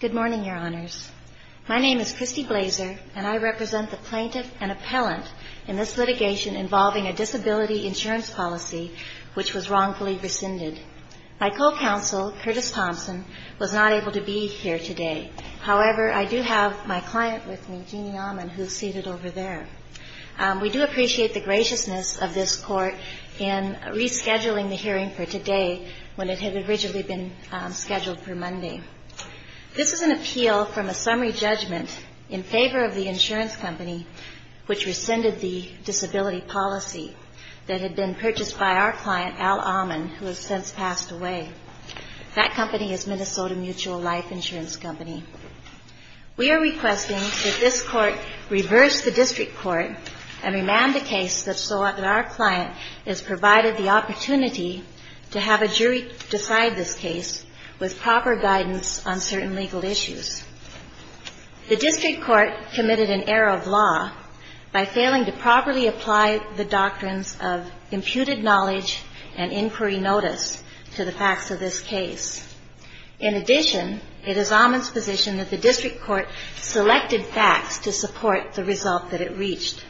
Good morning, Your Honors. My name is Christy Blazer, and I represent the plaintiff and appellant in this litigation involving a disability insurance policy which was wrongfully rescinded. My co-counsel, Curtis Thompson, was not able to be here today. However, I do have my client with me, Jeannie Ammann, who is seated over there. We do appreciate the graciousness of this Court in rescheduling the hearing for today when it had originally been scheduled for Monday. This is an appeal from a summary judgment in favor of the insurance company which rescinded the disability policy that had been purchased by our client, Al Ammann, who has since passed away. That company is Minnesota Mutual Life Insurance Company. We are requesting that this Court reverse the district court and remand a case such that our client is provided the opportunity to have a jury decide this case with proper guidance on certain legal issues. The district court committed an error of law by failing to properly apply the doctrines of imputed knowledge and inquiry notice to the facts of this case. In addition, it is Ammann's position that the district court selected facts to support the result that it reached.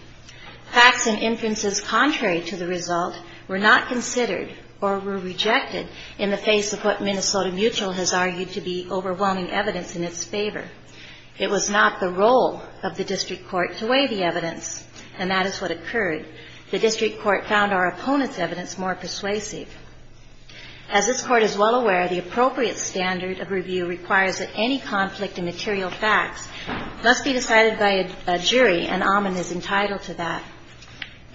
Facts and inferences contrary to the result were not considered or were rejected in the face of what Minnesota Mutual has argued to be overwhelming evidence in its favor. It was not the role of the district court to weigh the evidence, and that is what occurred. The district court found our opponent's evidence more persuasive. As this Court is well aware, the appropriate standard of review requires that any conflict in material facts must be decided by a jury, and Ammann is entitled to that.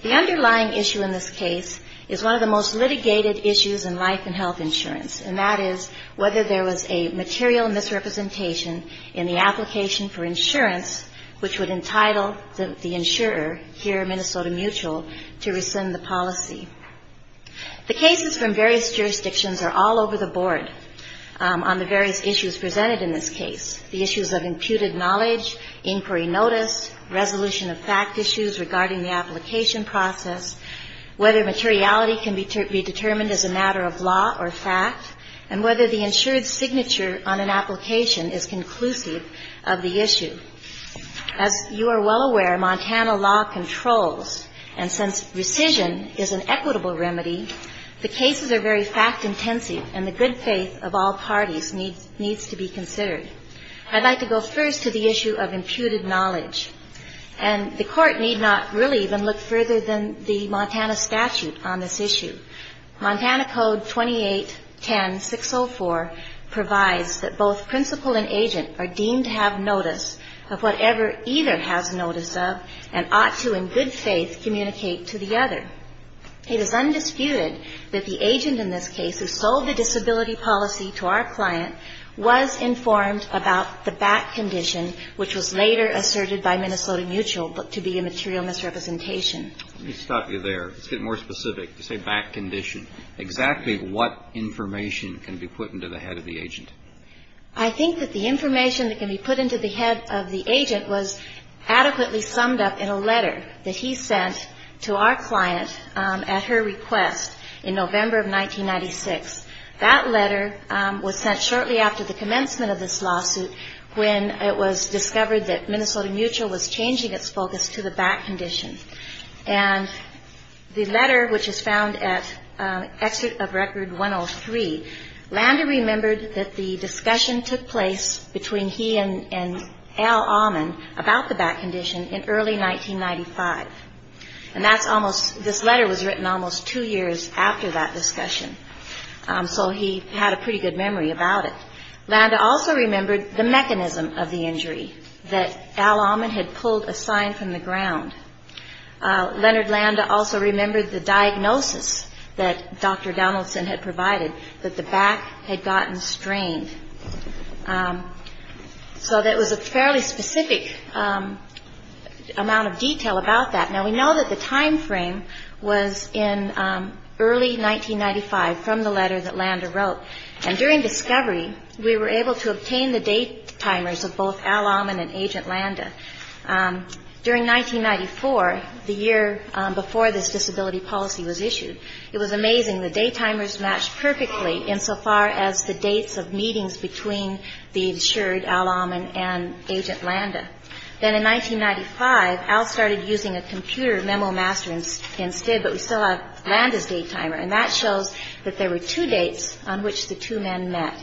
The underlying issue in this case is one of the most litigated issues in life and health insurance, and that is whether there was a material misrepresentation in the application for insurance which would entitle the insurer, here Minnesota Mutual, to rescind the policy. The cases from various jurisdictions are all over the board on the various issues presented in this case, the issues of imputed knowledge, inquiry notice, resolution of fact issues regarding the application process, whether materiality can be determined as a matter of law or fact, and whether the insured signature on an application is conclusive of the issue. As you are well aware, Montana law controls, and since rescission is an equitable remedy, the cases are very fact-intensive, and the good faith of all parties needs to be considered. I'd like to go first to the issue of imputed knowledge, and the Court need not really even look further than the Montana statute on this issue. Montana Code 2810604 provides that both principal and agent are deemed to have notice of whatever either has notice of and ought to, in good faith, communicate to the other. It is undisputed that the agent in this case who sold the disability policy to our client was informed about the back condition, which was later asserted by Minnesota Mutual to be a material misrepresentation. Let me stop you there. Let's get more specific. You say back condition. Exactly what information can be put into the head of the agent? I think that the information that can be put into the head of the agent was adequately summed up in a letter that he sent to our client at her request in November of 1996. That letter was sent shortly after the commencement of this lawsuit, when it was discovered that Minnesota Mutual was changing its focus to the back condition. And the letter, which is found at Exit of Record 103, Landa remembered that the discussion took place between he and Al Ahman about the back condition in early 1995. And this letter was written almost two years after that discussion. So he had a pretty good memory about it. Landa also remembered the mechanism of the injury, that Al Ahman had pulled a sign from the ground. Leonard Landa also remembered the diagnosis that Dr. Donaldson had provided, that the back had gotten strained. So there was a fairly specific amount of detail about that. Now, we know that the time frame was in early 1995 from the letter that Landa wrote. And during discovery, we were able to obtain the date timers of both Al Ahman and Agent Landa. During 1994, the year before this disability policy was issued, it was amazing. The date timers matched perfectly insofar as the dates of meetings between the insured Al Ahman and Agent Landa. Then in 1995, Al started using a computer memo master instead, but we still have Landa's date timer. And that shows that there were two dates on which the two men met.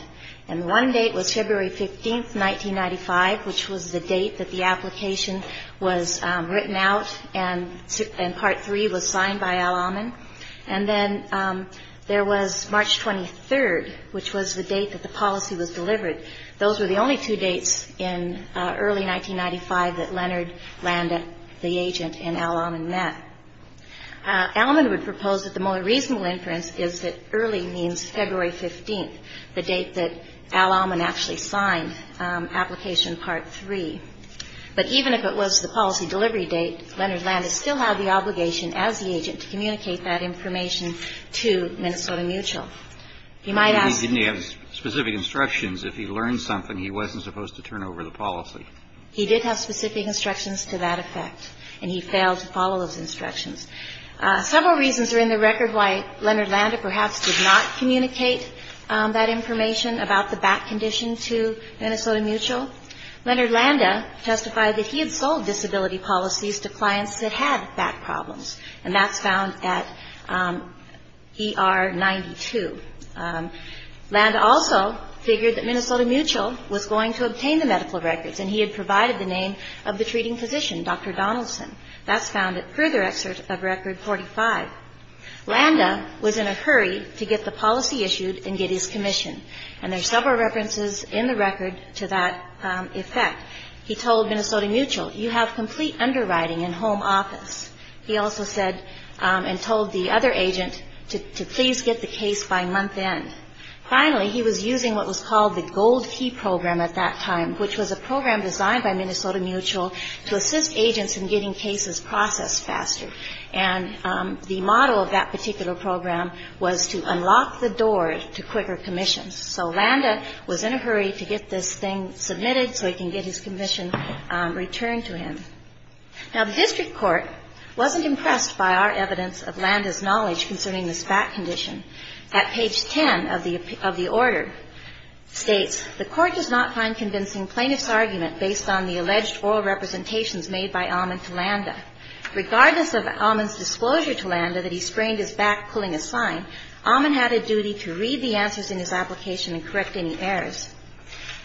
And one date was February 15, 1995, which was the date that the application was written out and Part 3 was signed by Al Ahman. And then there was March 23, which was the date that the policy was delivered. Those were the only two dates in early 1995 that Leonard Landa, the agent, and Al Ahman met. Al Ahman would propose that the more reasonable inference is that early means February 15, the date that Al Ahman actually signed Application Part 3. But even if it was the policy delivery date, Leonard Landa still had the obligation as the agent to communicate that information to Minnesota Mutual. He might ask... He did have specific instructions to that effect, and he failed to follow those instructions. Several reasons are in the record why Leonard Landa perhaps did not communicate that information about the back condition to Minnesota Mutual. Leonard Landa testified that he had sold disability policies to clients that had back problems. And that's found at ER 92. Landa also figured that Minnesota Mutual was going to obtain the medical records, and he had provided the name of the treating physician, Dr. Donaldson. That's found at further excerpt of Record 45. Landa was in a hurry to get the policy issued and get his commission. And there's several references in the record to that effect. He told Minnesota Mutual, you have complete underwriting in home office. He also said and told the other agent to please get the case by month end. Finally, he was using what was called the Gold Key Program at that time, which was a program designed by Minnesota Mutual to assist agents in getting cases processed faster. And the model of that particular program was to unlock the door to quicker commissions. So Landa was in a hurry to get this thing submitted so he can get his commission returned to him. Now, the district court wasn't impressed by our evidence of Landa's knowledge concerning this back condition. At page 10 of the order states, the court does not find convincing plaintiff's argument based on the alleged oral representations made by Almond to Landa. Regardless of Almond's disclosure to Landa that he sprained his back pulling a sign, Almond had a duty to read the answers in his application and correct any errors.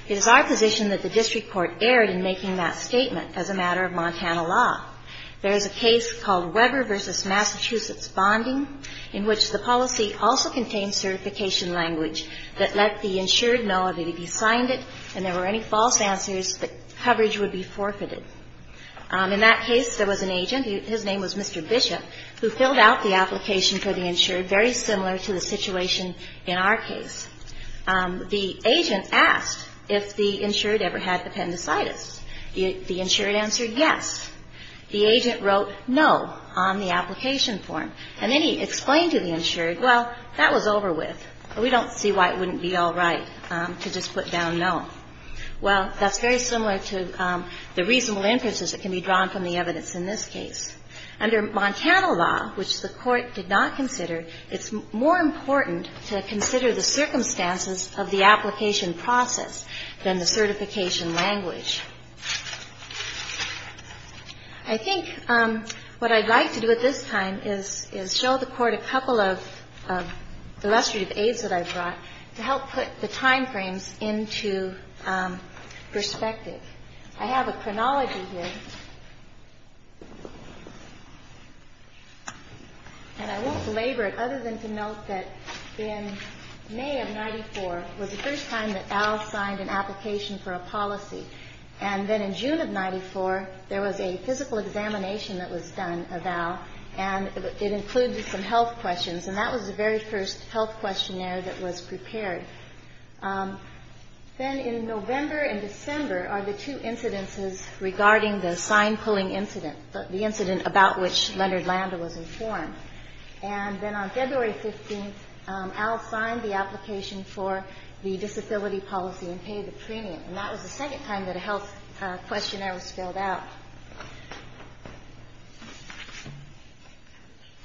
It is our position that the district court erred in making that statement as a matter of Montana law. There is a case called Weber v. Massachusetts Bonding in which the policy also contains certification language that let the insured know that if he signed it and there were any false answers, the coverage would be forfeited. In that case there was an agent, his name was Mr. Bishop, who filled out the application for the insured, very similar to the situation in our case. The agent asked if the insured ever had appendicitis. The insured answered yes. The agent wrote no on the application form. And then he explained to the insured, well, that was over with. We don't see why it wouldn't be all right to just put down no. Well, that's very similar to the reasonable inferences that can be drawn from the evidence in this case. Under Montana law, which the Court did not consider, it's more important to consider the circumstances of the application process than the certification language. I think what I'd like to do at this time is show the Court a couple of illustrative aids that I brought to help put the time frames into perspective. I have a chronology here. And I won't belabor it other than to note that in May of 94 was the first time that Al signed an application for a policy. And then in June of 94 there was a physical examination that was done of Al. And it included some health questions. And that was the very first health questionnaire that was prepared. Then in November and December are the two incidences regarding the sign-pulling incident, the incident about which Leonard Landa was informed. And then on February 15th, Al signed the application for the disability policy and paid the premium. And that was the second time that a health questionnaire was filled out.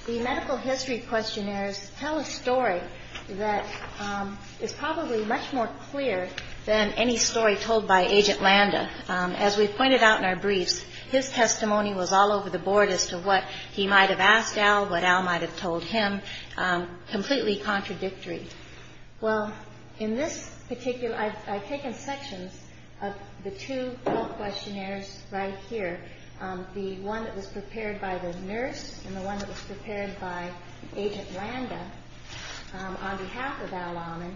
The medical history questionnaires tell a story that is probably much more clear than any story told by Agent Landa. As we've pointed out in our briefs, his testimony was all over the board as to what he might have asked Al, what Al might have told him, completely contradictory. Well, in this particular, I've taken sections of the two health questionnaires right here, the one that was prepared by the nurse and the one that was prepared by Agent Landa on behalf of Al Almond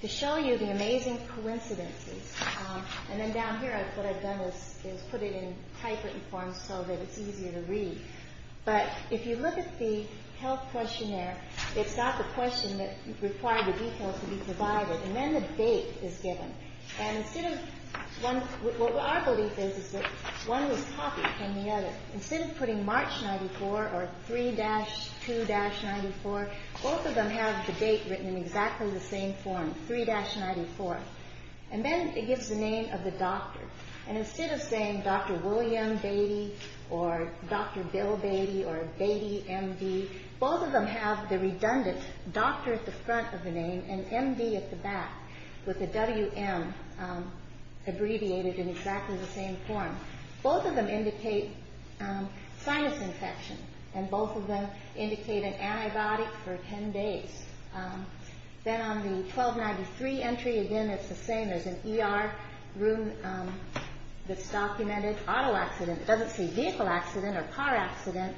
to show you the amazing coincidences. And then down here what I've done is put it in typewritten form so that it's easier to read. But if you look at the health questionnaire, it's got the question that required the details to be provided. And then the date is given. And instead of, what our belief is, is that one was copied from the other. Instead of putting March 94 or 3-2-94, both of them have the date written in exactly the same form, 3-94. And then it gives the name of the doctor. And instead of saying Dr. William Beatty or Dr. Bill Beatty or Beatty, M.D., both of them have the redundant doctor at the front of the name and M.D. at the back with the W.M. abbreviated in exactly the same form. Both of them indicate sinus infection. And both of them indicate an antibiotic for 10 days. Then on the 1293 entry, again, it's the same. There's an ER room that's documented auto accident. It doesn't say vehicle accident or car accident.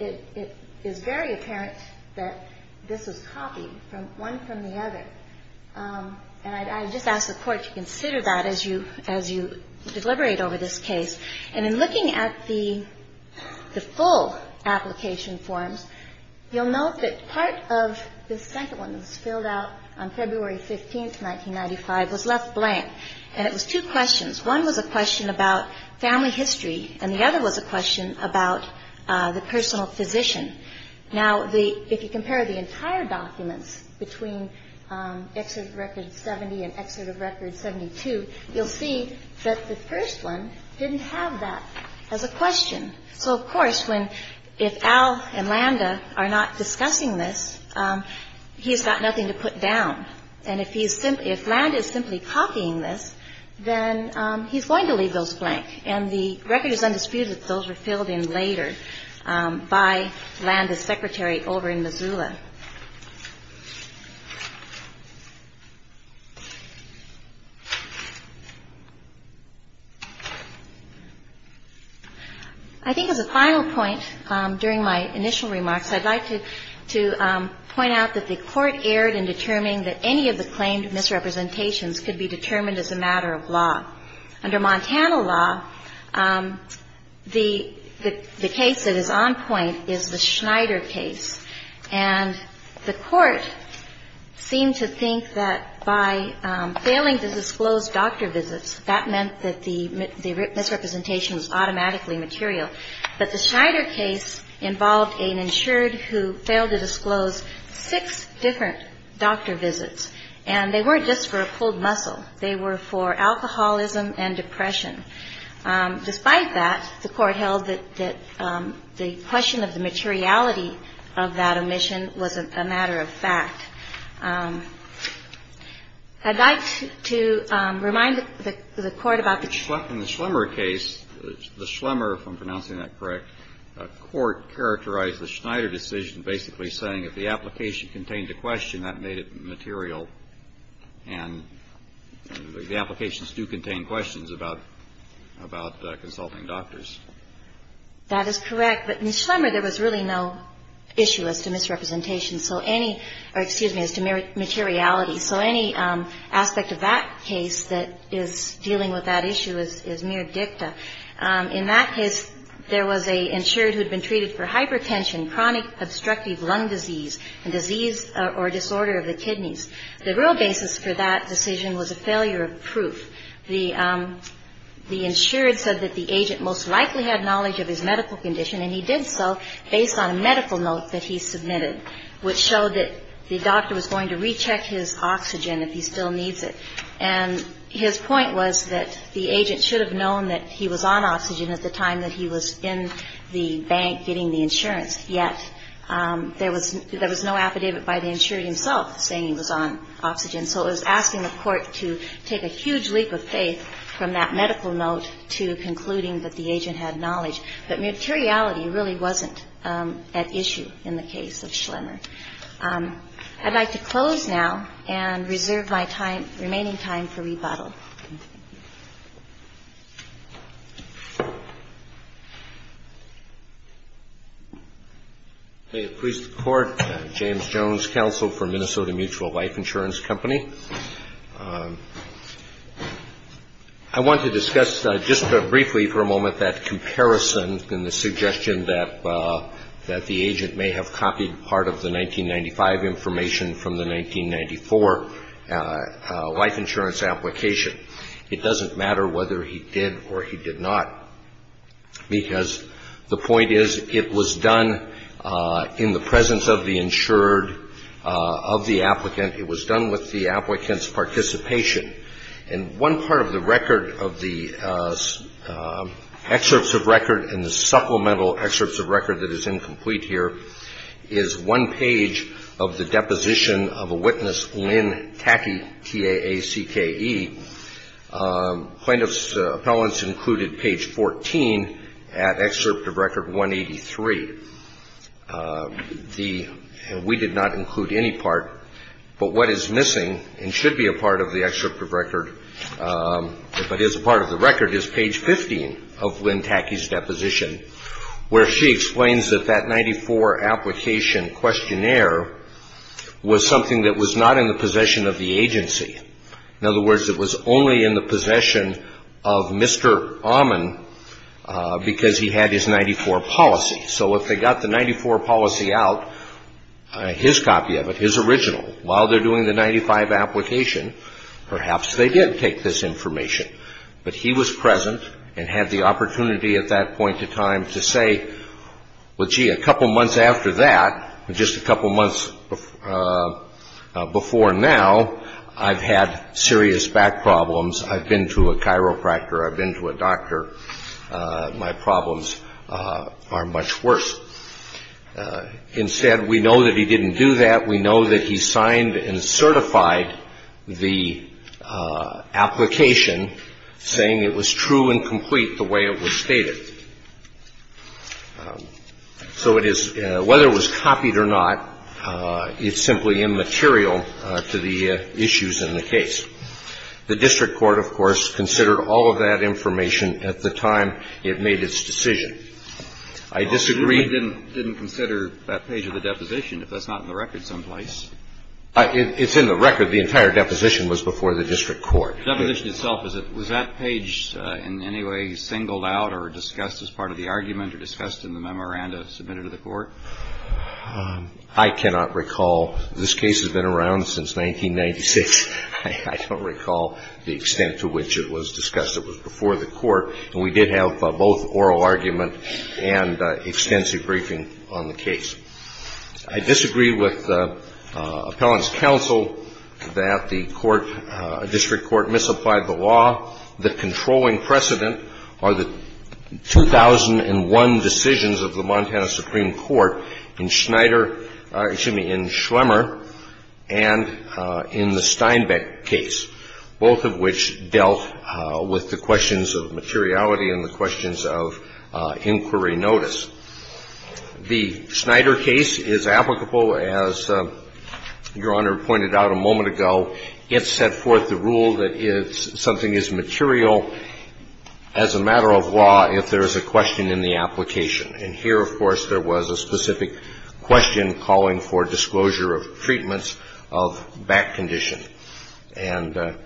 It is very apparent that this was copied, one from the other. And I just ask the Court to consider that as you deliberate over this case. And in looking at the full application forms, you'll note that part of the second one that was filled out on February 15, 1995, was left blank. And it was two questions. One was a question about family history. And the other was a question about the personal physician. Now, if you compare the entire documents between Excerpt of Record 70 and Excerpt of Record 72, you'll see that the first one didn't have that as a question. So, of course, if Al and Landa are not discussing this, he's got nothing to put down. And if Landa is simply copying this, then he's going to leave those blank. And the record is undisputed that those were filled in later by Landa's secretary over in Missoula. I think as a final point during my initial remarks, I'd like to point out that the Court erred in determining that any of the claimed misrepresentations could be determined as a matter of law. Under Montana law, the case that is on point is the Schneider case. And the Court seemed to think that by failing to disclose doctor visits, that meant that the misrepresentation was automatically material. But the Schneider case involved an insured who failed to disclose six different doctor visits. And they weren't just for a pulled muscle. They were for alcoholism and depression. Despite that, the Court held that the question of the materiality of that omission was a matter of fact. I'd like to remind the Court about the... In the Schlemmer case, the Schlemmer, if I'm pronouncing that correct, a court characterized the Schneider decision basically saying if the application contained a question, that made it material and the applications do contain questions about consulting doctors. That is correct. But in Schlemmer, there was really no issue as to misrepresentation, or excuse me, as to materiality. So any aspect of that case that is dealing with that issue is mere dicta. In that case, there was an insured who had been treated for hypertension, The real basis for that decision was a failure of proof. The insured said that the agent most likely had knowledge of his medical condition, and he did so based on a medical note that he submitted, which showed that the doctor was going to recheck his oxygen if he still needs it. And his point was that the agent should have known that he was on oxygen at the time that he was in the bank getting the insurance. Yet there was no affidavit by the insured himself saying he was on oxygen. So it was asking the court to take a huge leap of faith from that medical note to concluding that the agent had knowledge. But materiality really wasn't at issue in the case of Schlemmer. I'd like to close now and reserve my remaining time for rebuttal. May it please the court, James Jones, counsel for Minnesota Mutual Life Insurance Company. I want to discuss just briefly for a moment that comparison and the suggestion that the agent may have copied part of the 1995 information from the 1994 life insurance application. It doesn't matter whether he did or he did not because the point is it was done in the presence of the insured, of the applicant. It was done with the applicant's participation. And one part of the record of the excerpts of record and the supplemental excerpts of record that is incomplete here is one page of the deposition of a witness, Lynn Tacky, T-A-A-C-K-E. Plaintiff's appellants included page 14 at excerpt of record 183. We did not include any part. But what is missing and should be a part of the excerpt of record but is a part of the record is page 15 of Lynn Tacky's deposition where she explains that that 94 application questionnaire was something that was not in the possession of the agency. In other words, it was only in the possession of Mr. Ahman because he had his 94 policy. So if they got the 94 policy out, his copy of it, his original, while they're doing the 95 application, perhaps they did take this information. But he was present and had the opportunity at that point in time to say, well, gee, a couple months after that, just a couple months before now, I've had serious back problems. I've been to a chiropractor. I've been to a doctor. My problems are much worse. Instead, we know that he didn't do that. We know that he signed and certified the application saying it was true and complete the way it was stated. So it is, whether it was copied or not, it's simply immaterial to the issues in the case. The district court, of course, considered all of that information at the time it made its decision. I disagree. But Lynn didn't consider that page of the deposition if that's not in the record someplace. It's in the record. The entire deposition was before the district court. The deposition itself, was that page in any way singled out or discussed as part of the argument or discussed in the memoranda submitted to the court? I cannot recall. This case has been around since 1996. I don't recall the extent to which it was discussed. It was before the court. And we did have both oral argument and extensive briefing on the case. I disagree with the appellant's counsel that the district court misapplied the law. The controlling precedent are the 2001 decisions of the Montana Supreme Court in Schneider, excuse me, in Schlemmer and in the Steinbeck case, both of which dealt with the questions of materiality and the questions of inquiry notice. The Schneider case is applicable as Your Honor pointed out a moment ago. It set forth the rule that something is material as a matter of law if there is a question in the application. And here, of course, there was a specific question calling for disclosure of treatments of back condition. And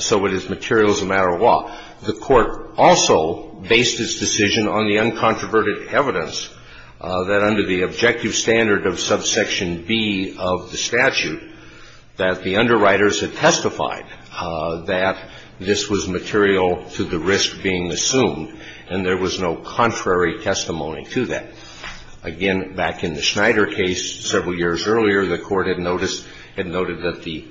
so it is material as a matter of law. The court also based its decision on the uncontroverted evidence that under the objective standard of subsection B of the statute that the underwriters had testified that this was material to the risk being assumed and there was no contrary testimony to that. Again, back in the Schneider case, several years earlier, the court had noticed, had noted that the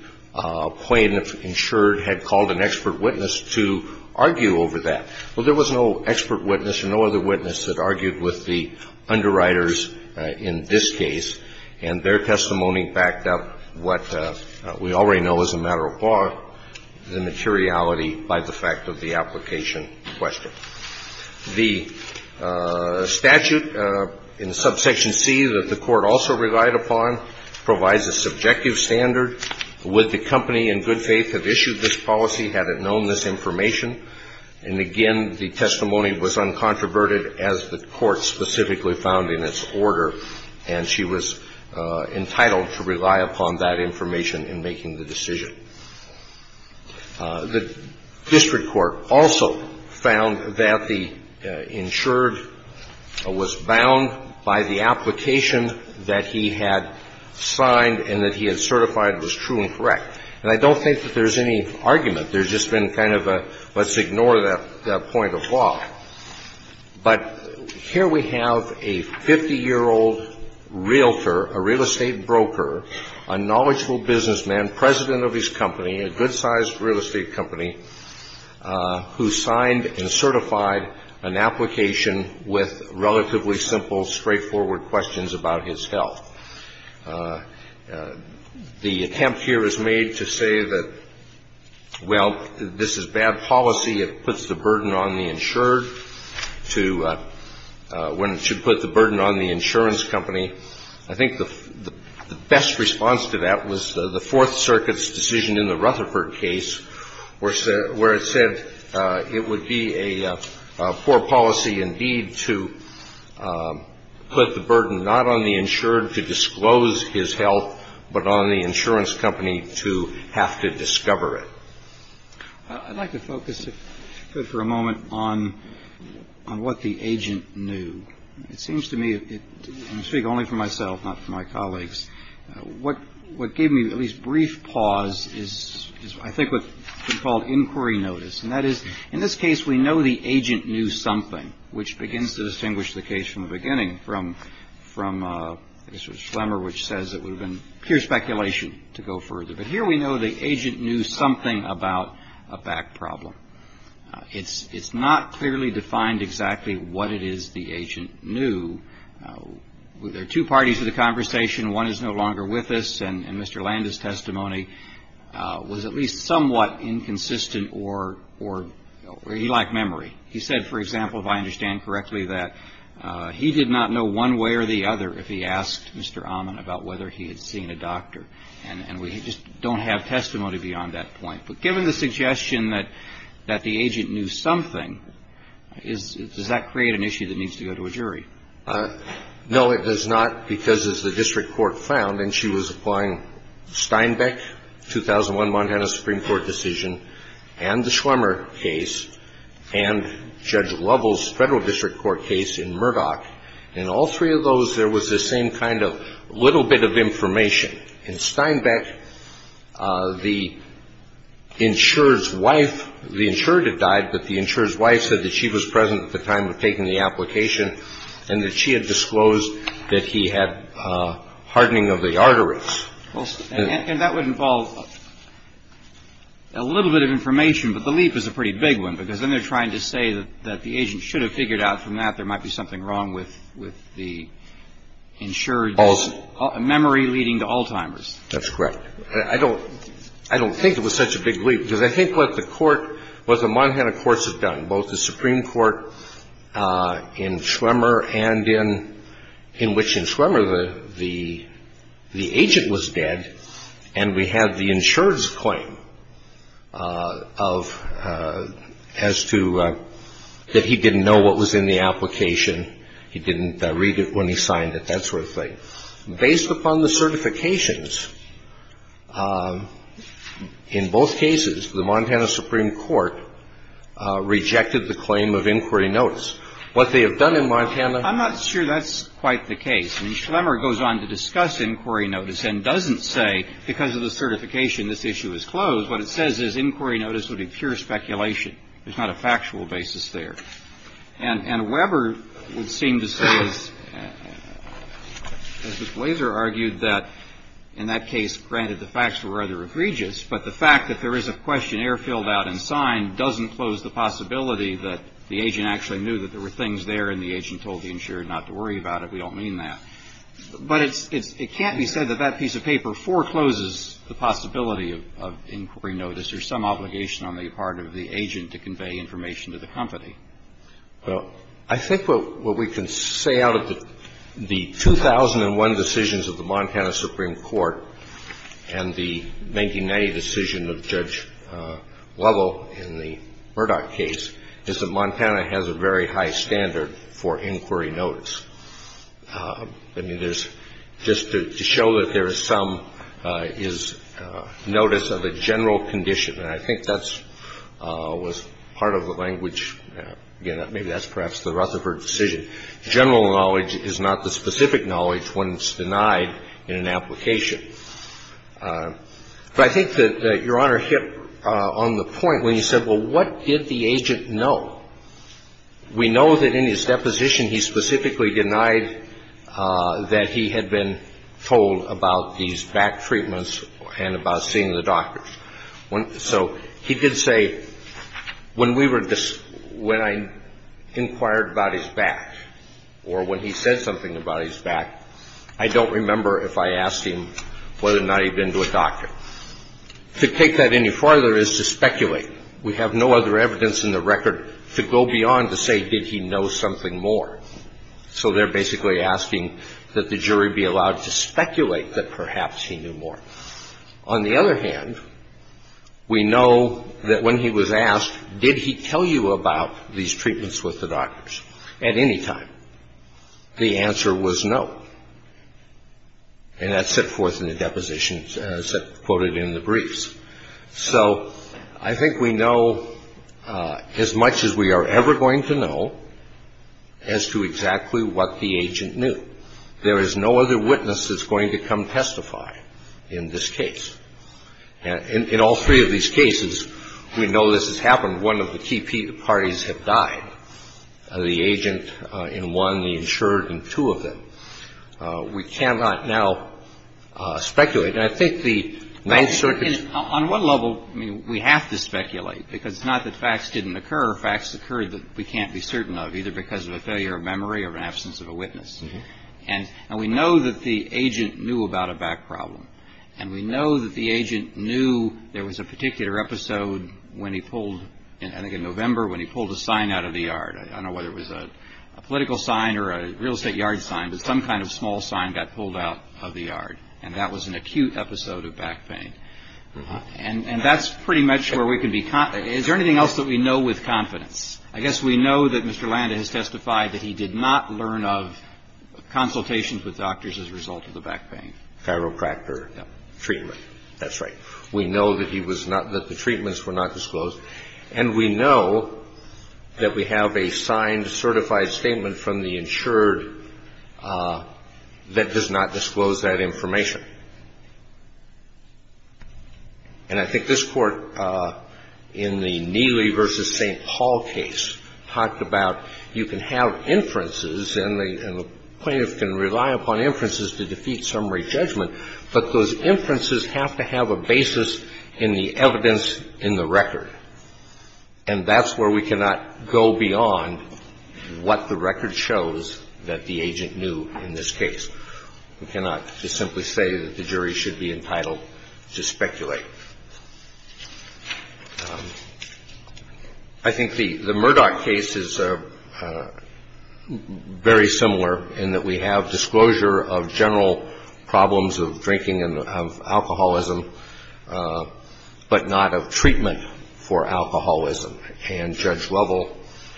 plaintiff insured had called an expert witness to argue over that. Well, there was no expert witness and no other witness that argued with the underwriters in this case and their testimony backed up what we already know as a matter of law, the materiality by the fact of the application question. The statute in subsection C that the court also relied upon provides a subjective standard. Would the company in good faith have issued this policy had it known this information? And again, the testimony was uncontroverted as the court specifically found in its order and she was entitled to rely upon that information in making the decision. The district court also found that the insured was bound by the application that he had signed and that he had certified was true and correct. And I don't think that there's any argument. There's just been kind of a, let's ignore that point of law. But here we have a 50-year-old realtor, a real estate broker, a knowledgeable businessman, and president of his company, a good-sized real estate company who signed and certified an application with relatively simple, straightforward questions about his health. The attempt here is made to say that, well, this is bad policy. It puts the burden on the insured when it should put the burden on the insurance company. I think the best response to that was the Fourth Circuit's decision in the Rutherford case where it said it would be a poor policy indeed to put the burden not on the insured to disclose his health but on the insurance company to have to discover it. I'd like to focus for a moment on what the agent knew. It seems to me, and I speak only for myself, not for my colleagues, what gave me at least brief pause is I think what's been called inquiry notice. And that is, in this case we know the agent knew something, which begins to distinguish the case from the beginning from a sort of slumber which says it would have been pure speculation to go further. But here we know the agent knew something about a back problem. It's not clearly defined exactly what it is the agent knew. There are two parties to the conversation. One is no longer with us and Mr. Landa's testimony was at least somewhat inconsistent or he lacked memory. He said, for example, if I understand correctly, that he did not know one way or the other if he asked Mr. Ahman about whether he had seen a doctor. And we just don't have testimony beyond that point. But given the suggestion that the agent knew something, does that create an issue that needs to go to a jury? No, it does not because as the district court found and she was applying Steinbeck, 2001 Montana Supreme Court decision and the Schwimmer case and Judge Lovell's federal district court case in Murdoch in all three of those there was the same kind of little bit of information. In Steinbeck, the insurer's wife the insurer had died but the insurer's wife said that she was present at the time of taking the application and that she had disclosed that he had hardening of the arteries. And that would involve a little bit of information but the leap is a pretty big one because then they're trying to say that the agent should have figured out from that there might be something wrong with the insurer's memory leading to Alzheimer's. That's correct. I don't think it was such a big leap because I think what the court what the Montana courts have done both the Supreme Court in Schwimmer and in in which in Schwimmer the agent was dead and we had the insurer's claim of as to that he didn't know what was in the application he didn't read it when he signed it that sort of thing. Based upon the certifications in both cases the Montana Supreme Court rejected the claim of inquiry notice. What they have done in Montana I'm not sure that's quite the case. Schwimmer goes on to discuss inquiry notice and doesn't say because of the certification this issue is closed what it says is inquiry notice would be pure speculation there's not a factual basis there. And Weber would seem to say as Mr. Glazer argued that in that case granted the facts were rather egregious but the fact that there is a questionnaire filled out and signed doesn't close the possibility that the agent actually knew that there were things there and the agent told the insurer not to worry about it we don't mean that. But it's it can't be said that that piece of paper forecloses the possibility of inquiry notice there's some obligation on the part of the agent to convey information to the company. Well I think what we can say out of the the 2001 decisions of the Montana Supreme Court and the 1990 decision of Judge Lovell in the Murdoch case is that Montana has a very high standard for inquiry notice. I mean there's just to show that there is some is notice of a general condition and I think that's was part of the language again maybe that's perhaps the Rutherford decision general knowledge is not the specific knowledge when it's denied in an application. But I think that Your Honor we're hit on the point when you said well what did the agent know? We know that in his deposition he specifically denied that he had been told about these back treatments and about seeing the doctors. So he did say when we were when I inquired about his back or when he said something about his back I don't remember if I asked him whether or not he'd been to a doctor. To take that any farther is to speculate. We have no other evidence in the record to go beyond to say did he know something more. So they're basically asking that the jury be allowed to speculate that perhaps he knew something more. On the other hand we know that when he was asked did he tell you about these treatments with the doctors at any time the answer was no. And that set forth in the deposition quoted in the briefs. So I think we know as much as we are ever going to know as to exactly what the agent knew. There is no other witness that's going to come testify in this case. In all three of these cases we know this has happened. One of the key parties have died. The agent in one and the insured in two of them. We cannot now speculate. I think the on one level we have to speculate because not that facts didn't occur facts occurred that we can't be certain of either because of a failure of memory or an absence of a witness. And we know that the agent knew about a back problem. And we know that the agent knew there was a episode when he pulled in November when he pulled a sign out of the yard. I don't know whether it was a political sign or a real estate yard sign but some kind of small sign that pulled out of the yard. And that was an acute episode of back pain. And that's pretty much where we can be confident. Is there anything else that we know with confidence? I guess we know that Mr. Landa has testified that he did not learn of consultations with doctors as a result of the back pain. We know did not receive a chiropractor treatment. That's right. We know that the treatments were not disclosed and we know that we have a signed certified statement from the insured that does not disclose that information. And I think this is a great judgment. But those inferences have to have a basis in the evidence in the record. And that's where we cannot go beyond what the record shows that the agent knew in this case. We cannot just simply say that the jury should be entitled to speculate. I think the Murdoch case is very similar in that we have disclosure of general problems of drinking and of alcoholism but not of treatment for alcoholism and Judge Lovell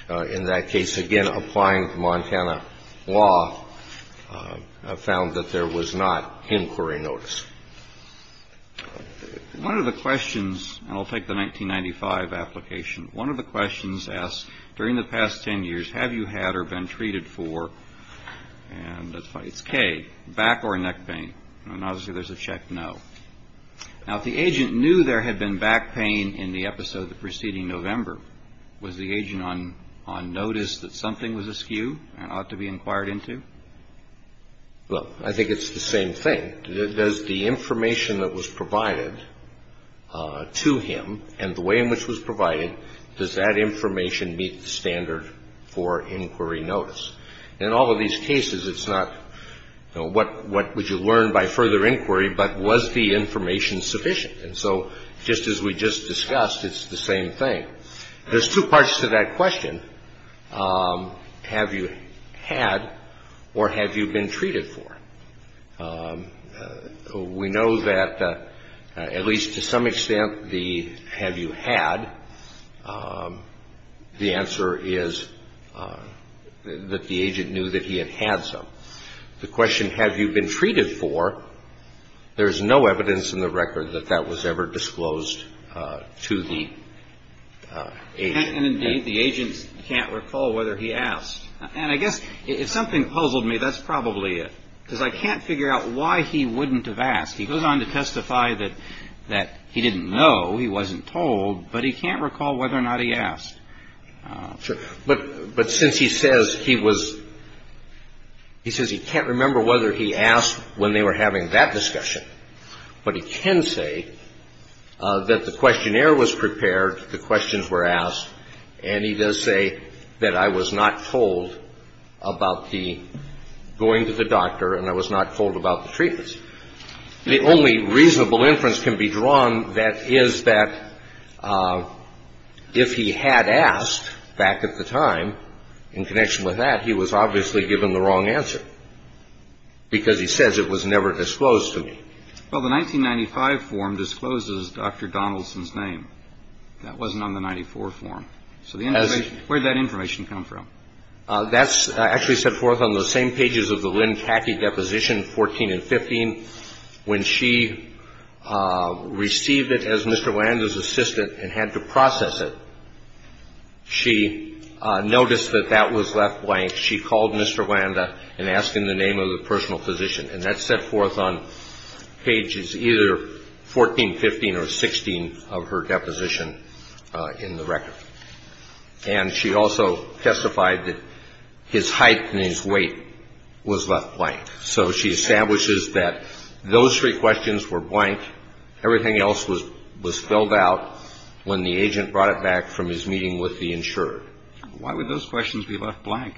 in that case again applying Montana law found that there was not inquiry notice. One of the questions and I'll take the 1995 application one of the questions asked during the past ten years have you had or been treated for and it's K back or neck pain obviously there's a check no. Now if the agent knew there had been back pain in the episode preceding November was the agent on notice that something was askew and ought to be inquired into? Well, I think it's the same thing. Does the information that was provided to him and the way in which it was provided to him meet the standard for inquiry notice? In all of these cases it's not what would you learn by further inquiry but was the information sufficient? And so just as we just discussed it's the same thing. There's two parts to that question. Have you had or have you been treated for? We know that at least to some extent the have you had the answer is that the agent knew that he had had some. The question have you been treated for there's no evidence in the record that that was ever disclosed to the agent. And indeed the agent can't recall whether he asked whether he asked. But since he says he can't remember whether he asked when they were having that discussion but he can say that the questionnaire was prepared the questions were asked and he does say that I was not told about the going to the doctor and I was not told about the treatments. The only reasonable inference can be drawn that is that if he had asked back at the time in connection with that what was that question from? That's actually set forth on those same pages of the Lynn Catkey deposition 14 and 15. When she received it as Mr. Landa's assistant and had to process it she noticed that that question was left blank. She called Mr. Landa and asked him the name of the personal physician. And that's set forth on pages either 14, 15, or 16 of her deposition in the record. And she also testified that his name was left blank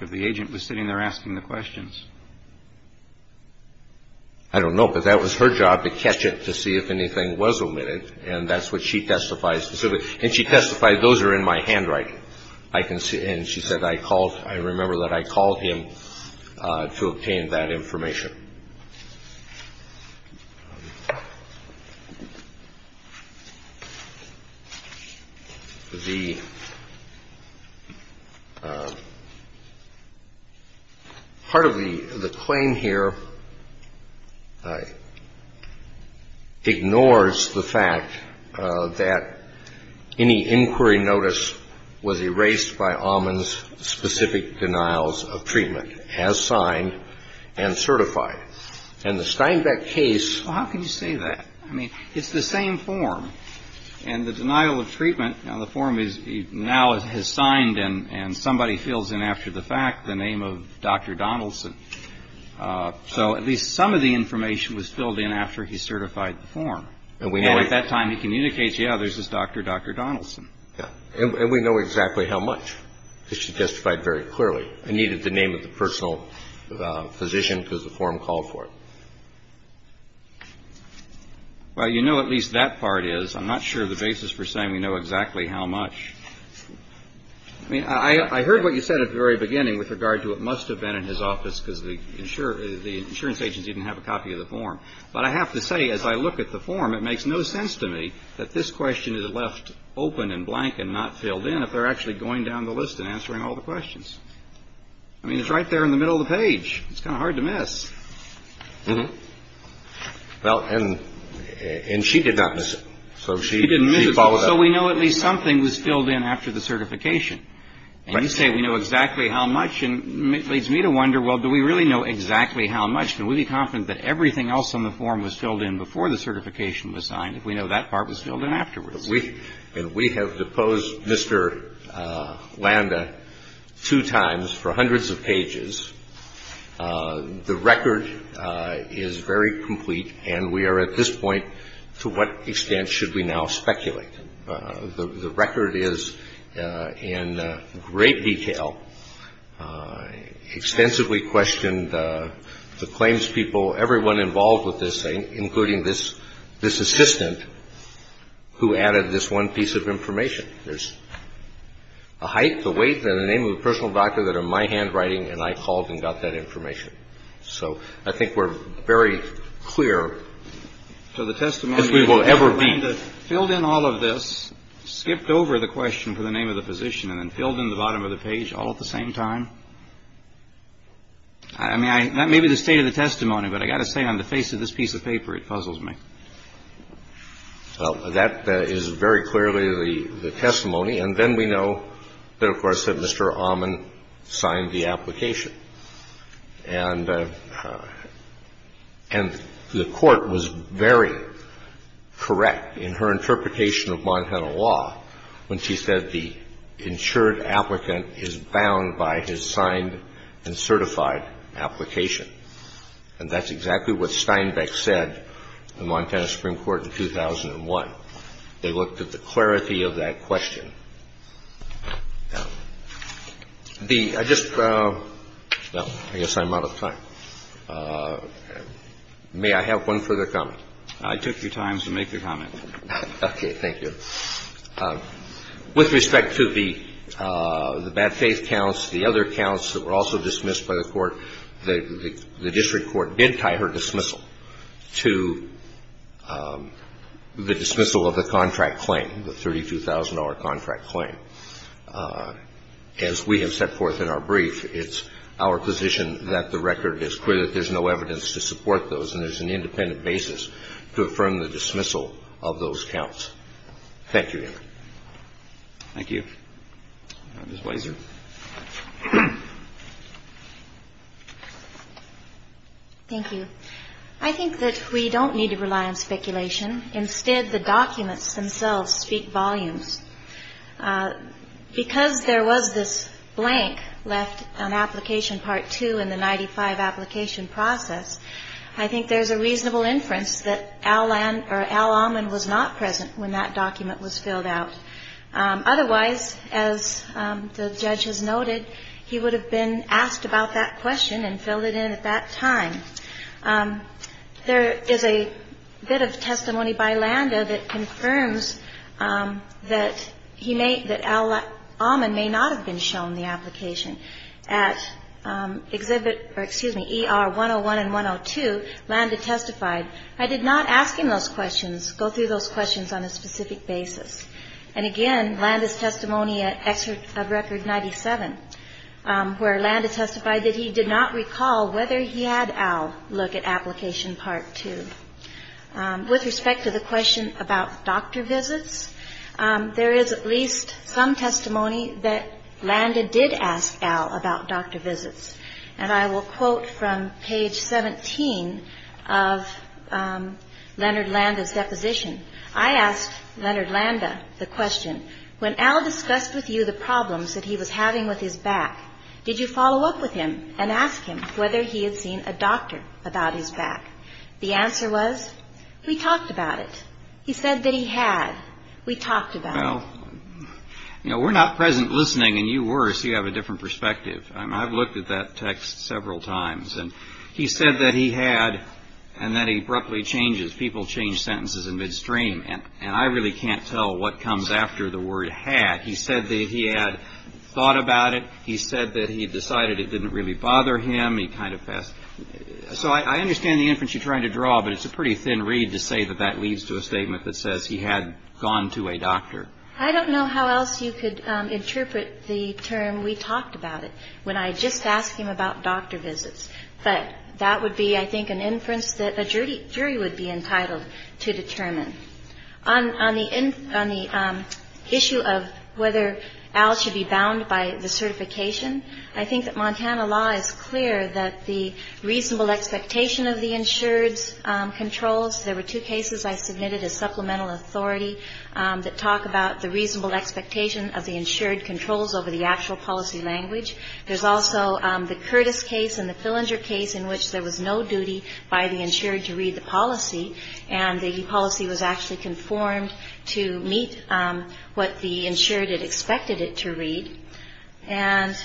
if the agent was sitting there asking the questions. I don't know, but that was her job to catch it to see if anything was omitted. And that's what she testified specifically. And she testified those are in my handwriting. And she said I remember that I called him to obtain that information. The part of the claim here ignores the fact that any inquiry notice was erased by Amann's specific denials of treatment. And the Steinbeck case is the same form. And the denial of treatment now has signed and somebody fills in after the fact the name of Dr. Donaldson. So at least some of the information was filled in after he certified the form. And at that time he was Montana Supreme Court and the court was very correct in her interpretation of Montana law when she said the insured applicant is bound by his signed and certified application. And that's exactly what Steinbeck said to Montana Supreme Court in 2001. They looked at the clarity of that question. The I just well I guess I'm out of time. May I have one further comment? I took your time to make your comment. Okay. Thank you. With respect to the bad faith counts, the other counts that were also dismissed by the court, the district court did tie her dismissal to the dismissal of the contract claim, the $32,000 contract claim. As we have set forth in our brief, it's our position that the record is clear that there is no evidence to support those and there is an independent basis to affirm the dismissal of those counts. Thank you. Thank you. Ms. Weiser. Thank you. I think that we don't need to rely on speculation. Instead, the documents themselves speak volumes. Because there was this blank left on application part 2 in the 95 application process, I think there's a reasonable inference that Al Alman was not present when that document was filled out. Otherwise, as the judge has noted, he would have been asked about that question and filled it in at that time. There is a bit of testimony by Landa that confirms that Al Alman may not have been shown the application. At ER 101 and 102, Landa testified, I did not ask him those questions, go through those questions on a specific basis. And again, Landa's testimony at record 97, where Landa testified that he did not recall whether he had Al look at application part 2. With respect to the question about doctor visits, there is at least some testimony that Landa did ask Al about doctor visits. And I will quote from page 17 of Leonard Landa's deposition. I asked Leonard Landa the question, when Al discussed with you the problems that he was having with his back, did you follow up with him and ask him whether he had seen a doctor about his back? The answer was, we talked about it. He said that he had. We talked about it. Well, you know, we're not present listening, and you were, so you have a different perspective. I've looked at that text several times. And he said that he had, and that he abruptly changes, people change sentences in midstream, and I really can't tell what comes after the word had. He said that he had thought about it. He said that he decided it didn't really bother him. He kind of passed, so I understand the inference you're trying to draw, but it's a pretty thin read to say that that leads to a statement that says he had gone to I don't know how else you could interpret the term, we talked about it, when I just asked him about doctor visits. But that would be, I think, an inference that a jury would be entitled to determine. On the issue of whether Al should be bound by the certification, I think that Montana law is clear that the reasonable expectation of the insured's controls, there were two cases I submitted as supplemental authority that talk about the reasonable expectation of the insured controls over the actual policy language. There's also the Curtis case and the Fillinger case in which there was no duty by the insured to read the policy and the policy was actually conformed to meet what the insured had expected it to read. And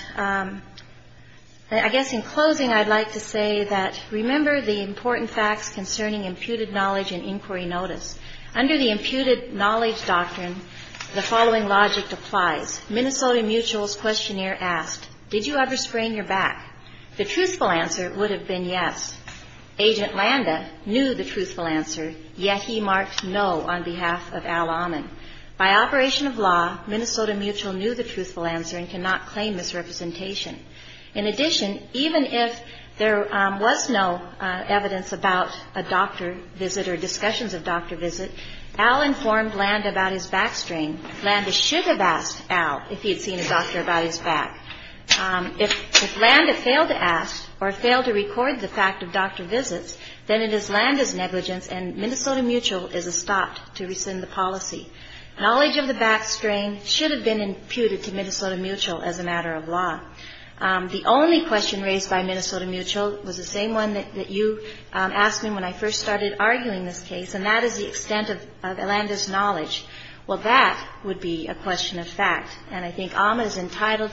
I guess in closing, I'd like to say that remember the important facts concerning imputed knowledge and inquiry notice. Under the imputed knowledge doctrine, the following logic applies. Minnesota Mutual's questionnaire asked, did you ever backstrain your back? The truthful answer would have been yes. Agent Landa knew the truthful answer, yet he marked no on behalf of Al Ahman. By operation of law, Minnesota Mutual knew the truthful answer and cannot claim misrepresentation. In addition, even if there was no evidence about a doctor visit or discussions of doctor visit, Al informed Landa about his backstrain. Landa should have asked Al if he had seen a doctor visit. If Landa failed to ask or failed to record the fact of doctor visits, then it is Landa's negligence and Minnesota Mutual is a stop to rescind the policy. Knowledge of the backstrain should have been imputed to Minnesota Mutual as a matter of law. The only question raised by Minnesota Mutual was the same one that you asked me when I first started arguing this case, and that is the extent of Landa's knowledge. Well, that would be a question of discretion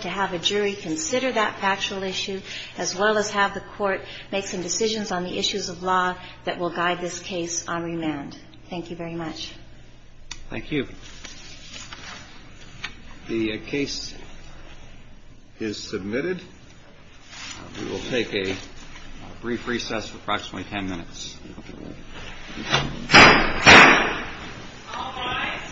to have a jury consider that factual issue as well as have the court make some decisions on the issues of law that will guide this case on remand. Thank you very much. Thank you. The case is submitted. We will take a brief recess for approximately ten minutes. All rise.